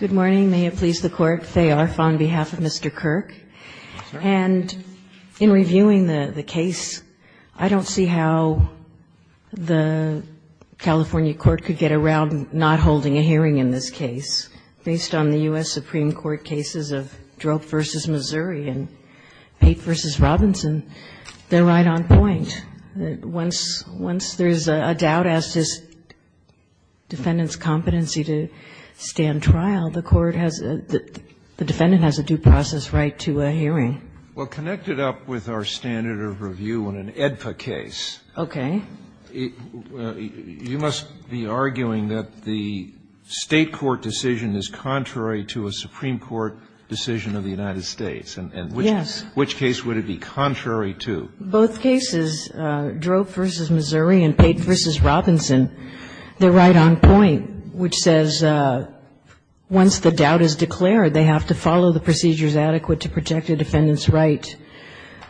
Good morning. May it please the Court, Faye Arf on behalf of Mr. Kirk. And in reviewing the case, I don't see how the California court could get around not holding a hearing in this case. Based on the U.S. Supreme Court cases of Drope v. Missouri and Pape v. Robinson, they're right on point. Once there's a doubt as to defendant's competency to stand trial, the court has a the defendant has a due process right to a hearing. Well, connected up with our standard of review on an AEDPA case. Okay. You must be arguing that the State court decision is contrary to a Supreme Court decision of the United States. And which case would it be contrary to? Both cases, Drope v. Missouri and Pape v. Robinson, they're right on point, which says once the doubt is declared, they have to follow the procedures adequate to protect a defendant's right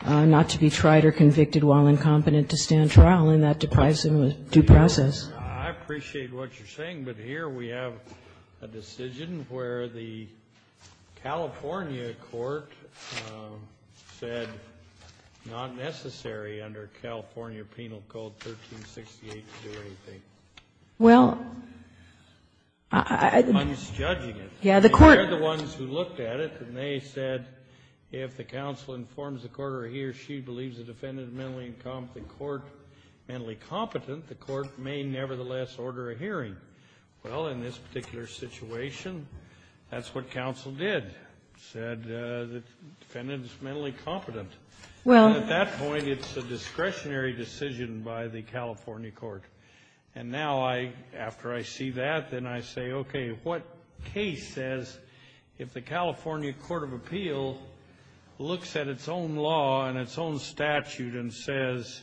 not to be tried or convicted while incompetent to stand trial, and that deprives them of due process. I appreciate what you're saying, but here we have a decision where the California court said not necessary under California Penal Code 1368 to do anything. Well, I think I'm just judging it. Yeah, the court. They're the ones who looked at it, and they said if the counsel informs the court or he or she believes the defendant is mentally incompetent, the court may nevertheless order a hearing. Well, in this particular situation, that's what counsel did, said the defendant is mentally competent. Well, at that point, it's a discretionary decision by the California court. And now I, after I see that, then I say, okay, what case says if the California Court of Appeal looks at its own law and its own statute and says,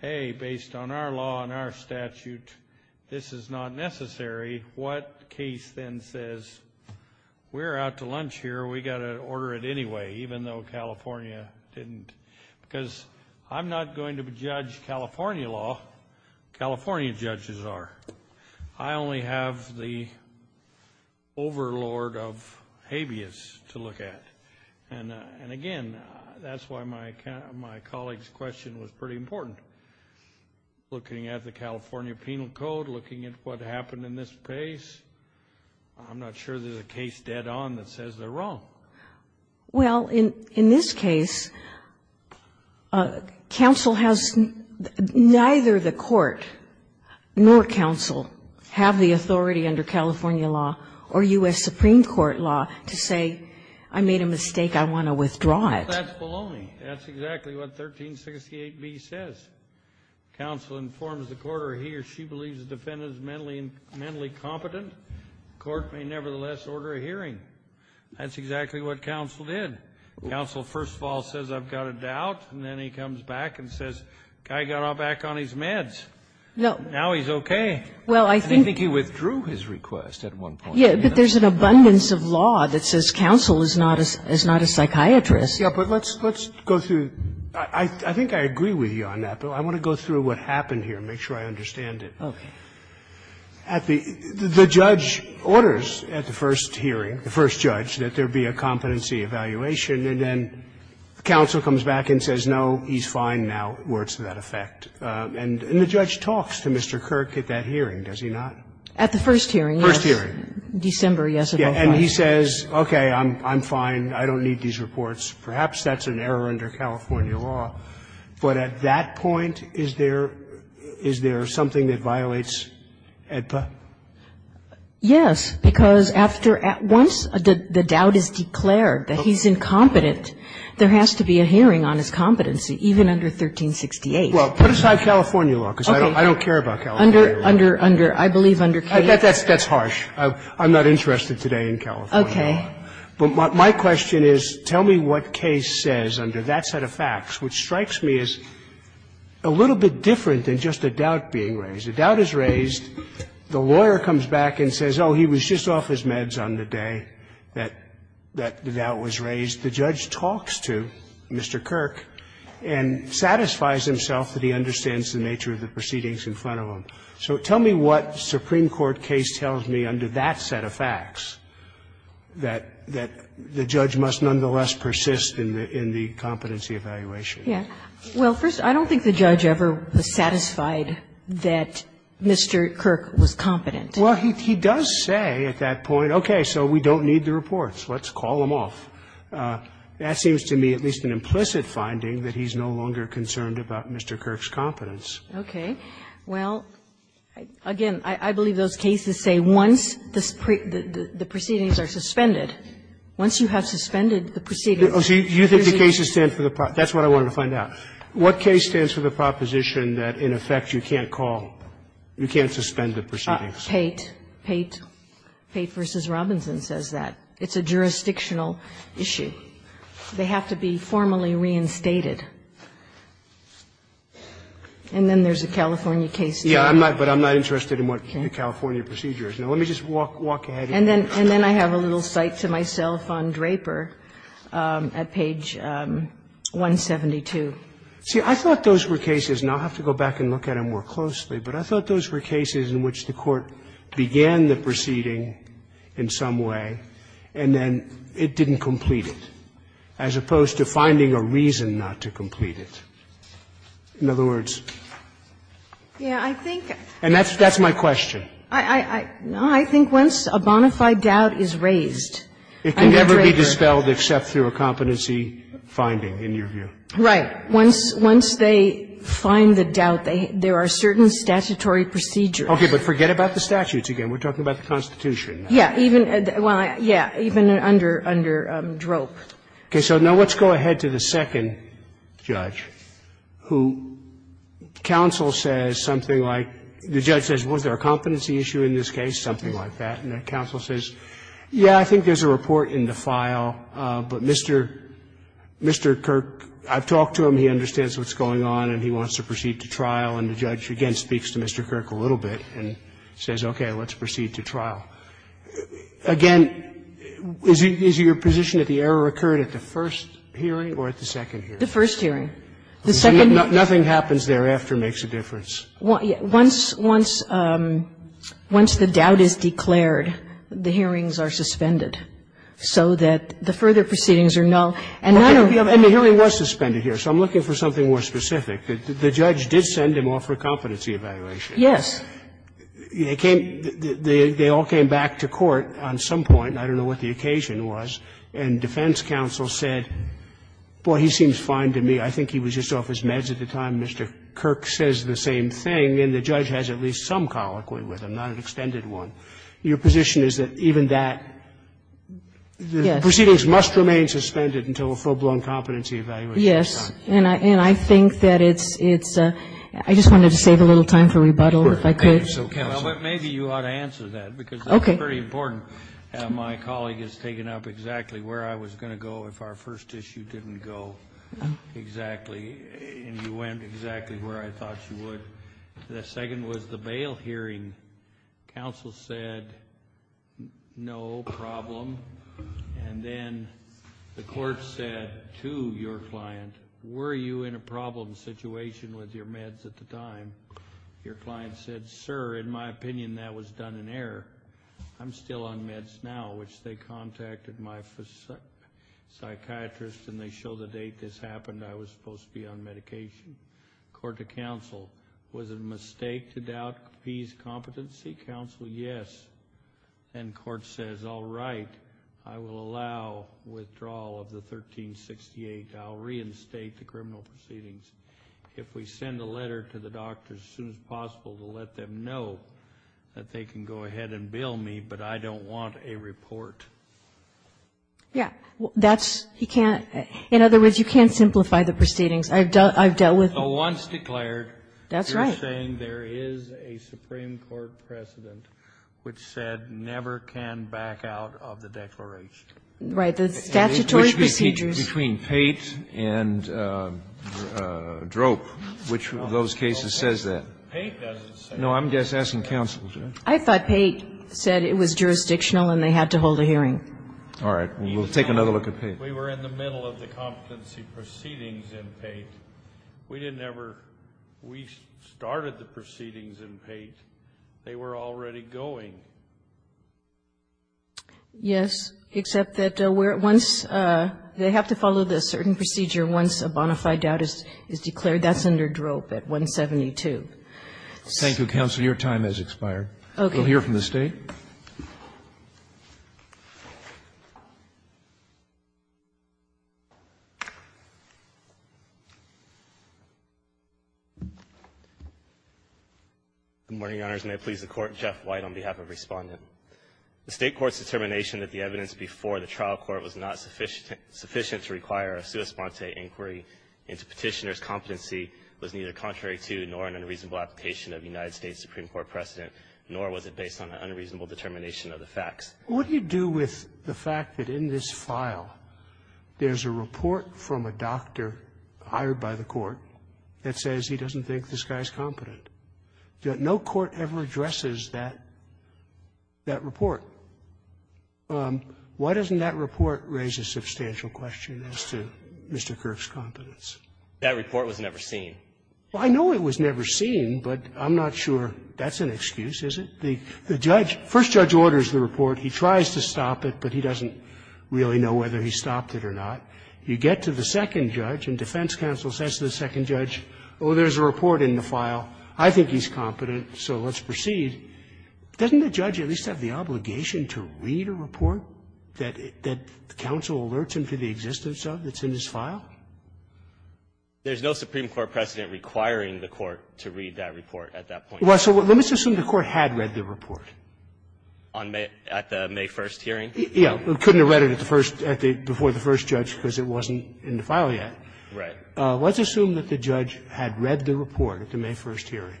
hey, based on our law and our statute, this is not necessary, what case then says, we're out to lunch here. We've got to order it anyway, even though California didn't, because I'm not going to judge California law, California judges are. I only have the overlord of habeas to look at. And again, that's why my colleague's question was pretty important. Looking at the California Penal Code, looking at what happened in this case, I'm not sure there's a case dead on that says they're wrong. Well, in this case, counsel has neither the court nor counsel have the authority under California law or U.S. Supreme Court law to say, I made a mistake, I want to withdraw it. Kennedy, that's exactly what 1368b says. Counsel informs the court or he or she believes the defendant is mentally competent, the court may nevertheless order a hearing. That's exactly what counsel did. Counsel first of all says, I've got a doubt, and then he comes back and says, the guy got all back on his meds. Now he's okay. And I think he withdrew his request at one point. Kagan. But there's an abundance of law that says counsel is not a psychiatrist. Yeah, but let's go through. I think I agree with you on that, but I want to go through what happened here and make sure I understand it. Okay. The judge orders at the first hearing, the first judge, that there be a competency evaluation, and then counsel comes back and says, no, he's fine now, words to that effect. And the judge talks to Mr. Kirk at that hearing, does he not? At the first hearing. First hearing. December, yes, of 05. And he says, okay, I'm fine, I don't need these reports. Perhaps that's an error under California law, but at that point, is there something that violates AEDPA? Yes, because after at once the doubt is declared that he's incompetent, there has to be a hearing on his competency, even under 1368. Well, put aside California law, because I don't care about California law. Under, I believe under K. That's harsh. I'm not interested today in California law. Okay. But my question is, tell me what K says under that set of facts, which strikes me as a little bit different than just a doubt being raised. A doubt is raised, the lawyer comes back and says, oh, he was just off his meds on the day that the doubt was raised. The judge talks to Mr. Kirk and satisfies himself that he understands the nature of the proceedings in front of him. So tell me what Supreme Court case tells me under that set of facts that the judge must nonetheless persist in the competency evaluation. Well, first, I don't think the judge ever was satisfied that Mr. Kirk was competent. Well, he does say at that point, okay, so we don't need the reports, let's call them off. That seems to me at least an implicit finding that he's no longer concerned about Mr. Kirk's competence. Okay. Well, again, I believe those cases say once the proceedings are suspended, once you have suspended the proceedings. See, you think the cases stand for the proposition, that's what I wanted to find out. What case stands for the proposition that in effect you can't call, you can't suspend the proceedings? Pate, Pate, Pate v. Robinson says that. It's a jurisdictional issue. They have to be formally reinstated. And then there's a California case. Yes, but I'm not interested in what the California procedure is. Now, let me just walk ahead. And then I have a little cite to myself on Draper at page 172. See, I thought those were cases and I'll have to go back and look at them more closely, but I thought those were cases in which the Court began the proceeding in some way and then it didn't complete it, as opposed to finding a reason not to complete it. In other words, and that's my question. I think once a bona fide doubt is raised under Draper's case. It can never be dispelled except through a competency finding, in your view. Right. Once they find the doubt, there are certain statutory procedures. Okay, but forget about the statutes again. We're talking about the Constitution. Yes. Even under Drope. Okay. So now let's go ahead to the second judge, who counsel says something like, the judge says, was there a competency issue in this case, something like that. And the counsel says, yes, I think there's a report in the file, but Mr. Kirk, I've talked to him, he understands what's going on and he wants to proceed to trial. And the judge again speaks to Mr. Kirk a little bit and says, okay, let's proceed to trial. Again, is your position that the error occurred at the first hearing or at the second hearing? The first hearing. The second hearing. Nothing happens thereafter makes a difference. Once the doubt is declared, the hearings are suspended so that the further proceedings are null. And none of the other. And the hearing was suspended here, so I'm looking for something more specific. The judge did send him off for a competency evaluation. Yes. They all came back to court on some point, I don't know what the occasion was, and defense counsel said, boy, he seems fine to me. I think he was just off his meds at the time. Mr. Kirk says the same thing, and the judge has at least some colloquy with him, not an extended one. Your position is that even that, the proceedings must remain suspended until a full-blown competency evaluation is done? Yes. And I think that it's ‑‑ I just wanted to save a little time for rebuttal, if I could. Maybe you ought to answer that, because that's very important. My colleague has taken up exactly where I was going to go if our first issue didn't go exactly, and you went exactly where I thought you would. The second was the bail hearing. Counsel said no problem, and then the court said to your client, were you in a problem situation with your meds at the time? Your client said, sir, in my opinion, that was done in error. I'm still on meds now, which they contacted my psychiatrist, and they show the date this happened. I was supposed to be on medication. Court to counsel, was it a mistake to doubt P's competency? Counsel, yes. And court says, all right, I will allow withdrawal of the 1368. I'll reinstate the criminal proceedings. If we send a letter to the doctors as soon as possible to let them know that they can go ahead and bill me, but I don't want a report. Yeah. That's you can't – in other words, you can't simplify the proceedings. I've dealt with them. Once declared, you're saying there is a Supreme Court precedent which said never can back out of the declaration. Right. The statutory procedures. Between Pate and Droke, which of those cases says that? Pate doesn't say that. No, I'm just asking counsel. I thought Pate said it was jurisdictional and they had to hold a hearing. All right. We'll take another look at Pate. We were in the middle of the competency proceedings in Pate. We didn't ever – we started the proceedings in Pate. They were already going. Yes, except that once – they have to follow the certain procedure once a bona fide doubt is declared. That's under Droke at 172. Thank you, counsel. Your time has expired. Okay. We'll hear from the State. Good morning, Your Honors, and may it please the Court. Jeff White on behalf of Respondent. The State court's determination that the evidence before the trial court was not sufficient to require a sua sponte inquiry into Petitioner's competency was neither contrary to nor an unreasonable application of the United States Supreme Court precedent, nor was it based on an unreasonable determination of the facts. What do you do with the fact that in this file there's a report from a doctor hired by the court that says he doesn't think this guy's competent? No court ever addresses that – that report. Why doesn't that report raise a substantial question as to Mr. Kirk's competence? That report was never seen. Well, I know it was never seen, but I'm not sure that's an excuse, is it? The judge – first judge orders the report. He tries to stop it, but he doesn't really know whether he stopped it or not. You get to the second judge, and defense counsel says to the second judge, oh, there's a report in the file. I think he's competent, so let's proceed. Doesn't the judge at least have the obligation to read a report that the counsel alerts him to the existence of that's in his file? There's no Supreme Court precedent requiring the court to read that report at that point. Well, so let's assume the court had read the report. On May – at the May 1st hearing? Yeah. Couldn't have read it at the first – before the first judge because it wasn't in the file yet. Right. Let's assume that the judge had read the report at the May 1st hearing.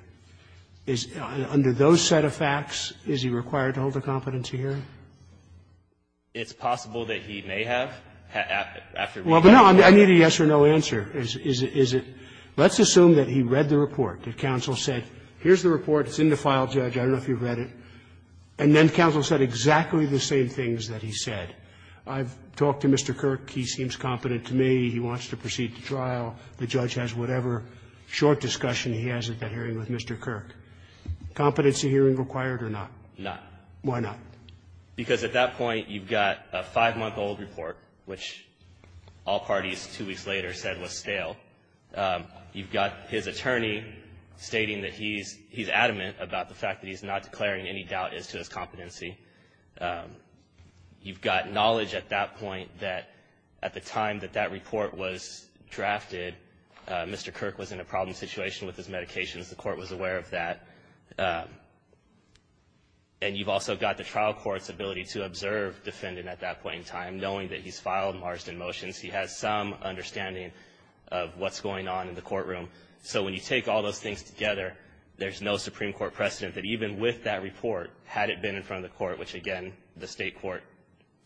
Is – under those set of facts, is he required to hold a competency hearing? It's possible that he may have after reading the report. Well, but no, I need a yes or no answer. Is it – let's assume that he read the report, that counsel said, here's the report. It's in the file, Judge. I don't know if you've read it. And then counsel said exactly the same things that he said. I've talked to Mr. Kirk. He seems competent to me. He wants to proceed to trial. The judge has whatever short discussion he has at that hearing with Mr. Kirk. Competency hearing required or not? Not. Why not? Because at that point, you've got a five-month-old report, which all parties, two weeks later, said was stale. You've got his attorney stating that he's – he's adamant about the fact that he's not declaring any doubt as to his competency. You've got knowledge at that point that at the time that that report was drafted, Mr. Kirk was in a problem situation with his medications. The court was aware of that. And you've also got the trial court's ability to observe defendant at that point in time, knowing that he's filed Marsden motions. He has some understanding of what's going on in the courtroom. So when you take all those things together, there's no Supreme Court precedent that even with that report, had it been in front of the court, which, again, the State court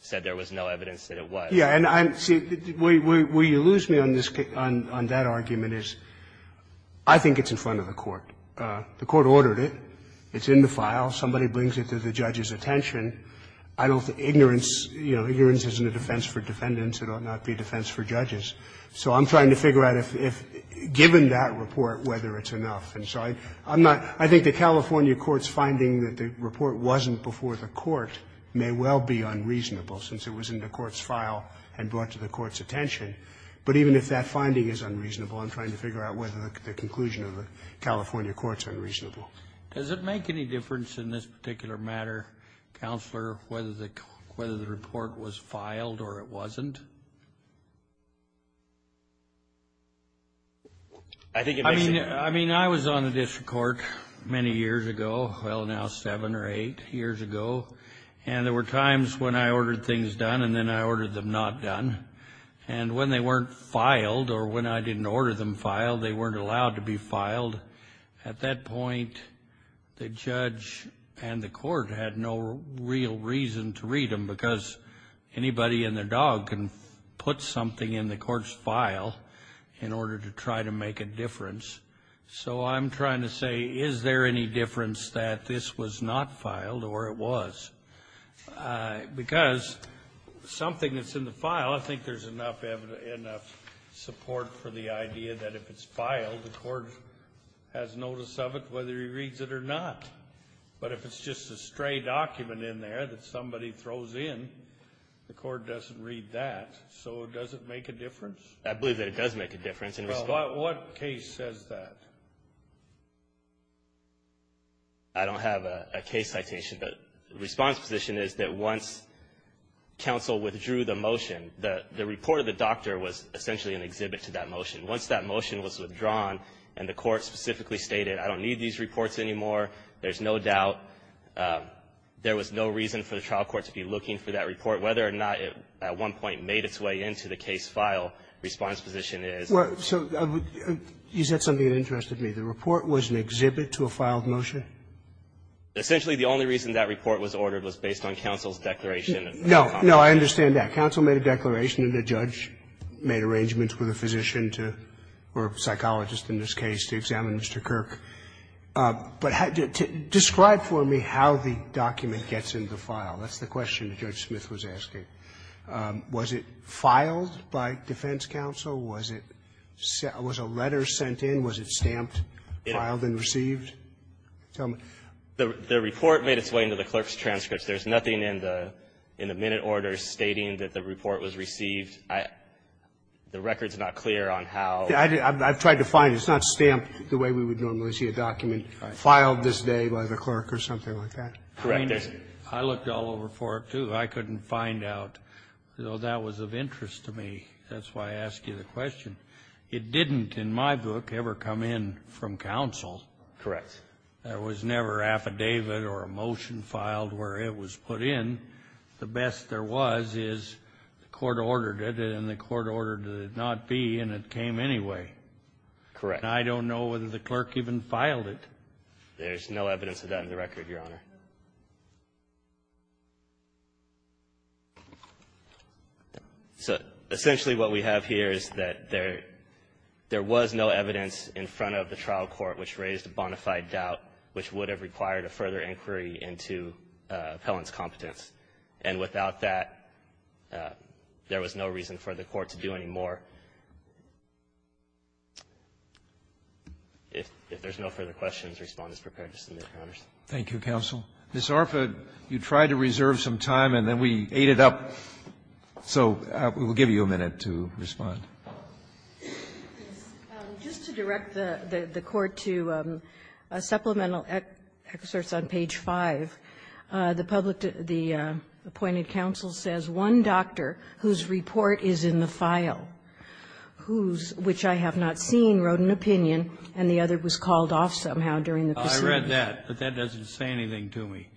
said there was no evidence that it was. Yeah. And I'm – see, where you lose me on this – on that argument is I think it's in front of the court. The court ordered it. It's in the file. Somebody brings it to the judge's attention. I don't – ignorance – you know, ignorance isn't a defense for defendants. It ought not be a defense for judges. So I'm trying to figure out if, given that report, whether it's enough. And so I'm not – I think the California court's finding that the report wasn't before the court may well be unreasonable, since it was in the court's file and brought to the court's attention. But even if that finding is unreasonable, I'm trying to figure out whether the conclusion of the California court's unreasonable. Does it make any difference in this particular matter, Counselor, whether the – whether the report was filed or it wasn't? I think it makes – I mean, I was on the district court many years ago – well, now seven or eight years ago – and there were times when I ordered things done and then I ordered them not done. And when they weren't filed, or when I didn't order them filed, they weren't allowed to be filed, at that point the judge and the court had no real reason to read them, because anybody and their dog can put something in the court's file in order to try to make a difference. So I'm trying to say, is there any difference that this was not filed or it was? Because something that's in the file, I think there's enough support for the idea that if it's filed, the court has notice of it whether he reads it or not. But if it's just a stray document in there that somebody throws in, the court doesn't read that. So does it make a difference? I believe that it does make a difference. Well, what case says that? I don't have a case citation, but the response position is that once counsel withdrew the motion, the report of the doctor was essentially an exhibit to that motion. Once that motion was withdrawn and the court specifically stated, I don't need these reports anymore, there's no doubt, there was no reason for the trial court to be looking for that report. Whether or not it at one point made its way into the case file, response position is. Well, so is that something that interested me? The report was an exhibit to a filed motion? Essentially, the only reason that report was ordered was based on counsel's declaration. No, no, I understand that. I understand that a judge made arrangements with a physician to or a psychologist in this case to examine Mr. Kirk. But describe for me how the document gets into the file. That's the question that Judge Smith was asking. Was it filed by defense counsel? Was it sent was a letter sent in? Was it stamped, filed and received? Tell me. The report made its way into the clerk's transcripts. There's nothing in the minute order stating that the report was received. The record is not clear on how. I've tried to find it. It's not stamped the way we would normally see a document filed this day by the clerk or something like that. Correct. I looked all over for it, too. I couldn't find out. So that was of interest to me. That's why I ask you the question. It didn't in my book ever come in from counsel. Correct. There was never affidavit or a motion filed where it was put in. The best there was is the court ordered it and the court ordered it not be, and it came anyway. Correct. I don't know whether the clerk even filed it. There's no evidence of that in the record, Your Honor. So essentially what we have here is that there was no evidence in front of the trial which would have required a further inquiry into Pellon's competence. And without that, there was no reason for the court to do any more. If there's no further questions, respond as prepared, Mr. McConnors. Thank you, counsel. Ms. Arford, you tried to reserve some time, and then we ate it up. So we'll give you a minute to respond. Just to direct the court to supplemental excerpts on page 5, the public, the appointed counsel says, one doctor whose report is in the file, whose, which I have not seen, wrote an opinion, and the other was called off somehow during the proceedings. I read that, but that doesn't say anything to me,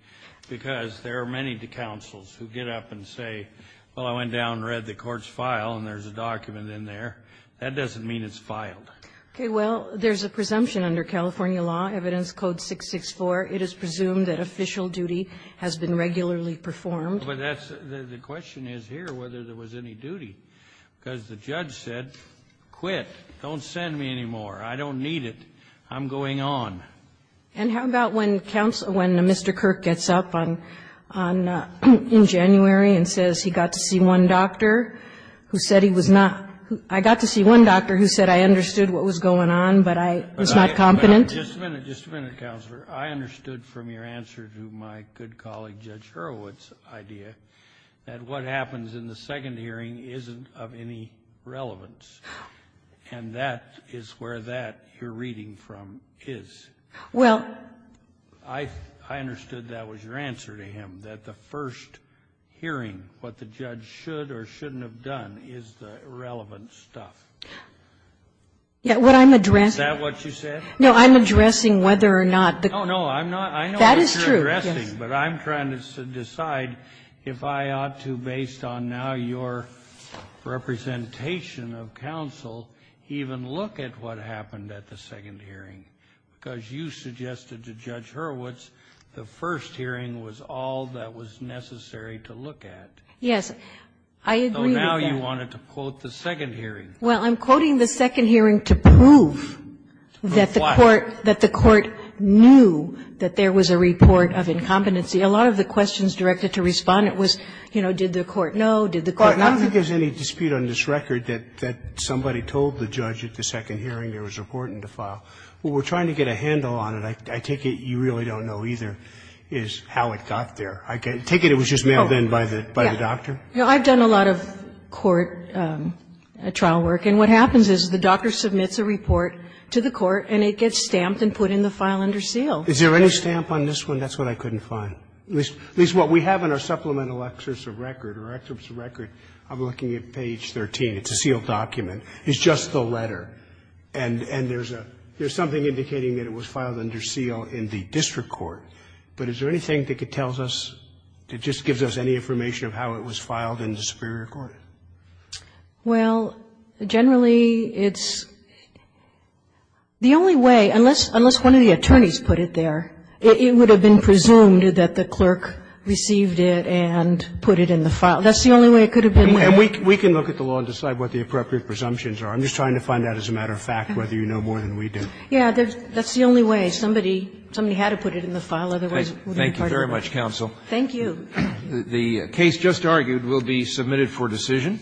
because there are many counsels who get up and say, well, I went down and read the court's file, and there's a document in there. That doesn't mean it's filed. Okay. Well, there's a presumption under California law, evidence code 664, it is presumed that official duty has been regularly performed. But that's, the question is here whether there was any duty, because the judge said, quit, don't send me anymore, I don't need it, I'm going on. And how about when counsel, when Mr. Kirk gets up on, on, in January and says he got to see one doctor who said he was not, I got to see one doctor who said I understood what was going on, but I was not confident? Just a minute, just a minute, Counselor. I understood from your answer to my good colleague Judge Hurwitz's idea that what happens in the second hearing isn't of any relevance, and that is where that you're reading from is. Well. I understood that was your answer to him, that the first hearing, what the judge should or shouldn't have done, is the relevant stuff. Yeah, what I'm addressing Is that what you said? No, I'm addressing whether or not the No, no, I'm not. I know what you're addressing, but I'm trying to decide if I ought to, based on now your representation of counsel, even look at what happened at the second hearing, because you suggested to Judge Hurwitz the first hearing was all that was necessary to look at. Yes, I agree with that. So now you wanted to quote the second hearing. Well, I'm quoting the second hearing to prove that the court, that the court knew that there was a report of incompetency. A lot of the questions directed to Respondent was, you know, did the court know, did the court not know? Well, I don't think there's any dispute on this record that, that somebody told the judge at the second hearing there was a report in the file. What we're trying to get a handle on it, I take it you really don't know either, is how it got there. I take it it was just mailed in by the doctor? Yeah. I've done a lot of court trial work, and what happens is the doctor submits a report to the court, and it gets stamped and put in the file under seal. Is there any stamp on this one? That's what I couldn't find. At least what we have in our supplemental excerpts of record, or excerpts of record, I'm looking at page 13. It's a sealed document. It's just the letter. And there's a, there's something indicating that it was filed under seal in the district court, but is there anything that could tell us, that just gives us any information of how it was filed in the superior court? Well, generally it's, the only way, unless, unless one of the attorneys put it there. It would have been presumed that the clerk received it and put it in the file. That's the only way it could have been. And we, we can look at the law and decide what the appropriate presumptions are. I'm just trying to find out, as a matter of fact, whether you know more than we do. Yeah, there's, that's the only way. Somebody, somebody had to put it in the file, otherwise it would have been hard to find. Thank you very much, counsel. Thank you. The case just argued will be submitted for decision.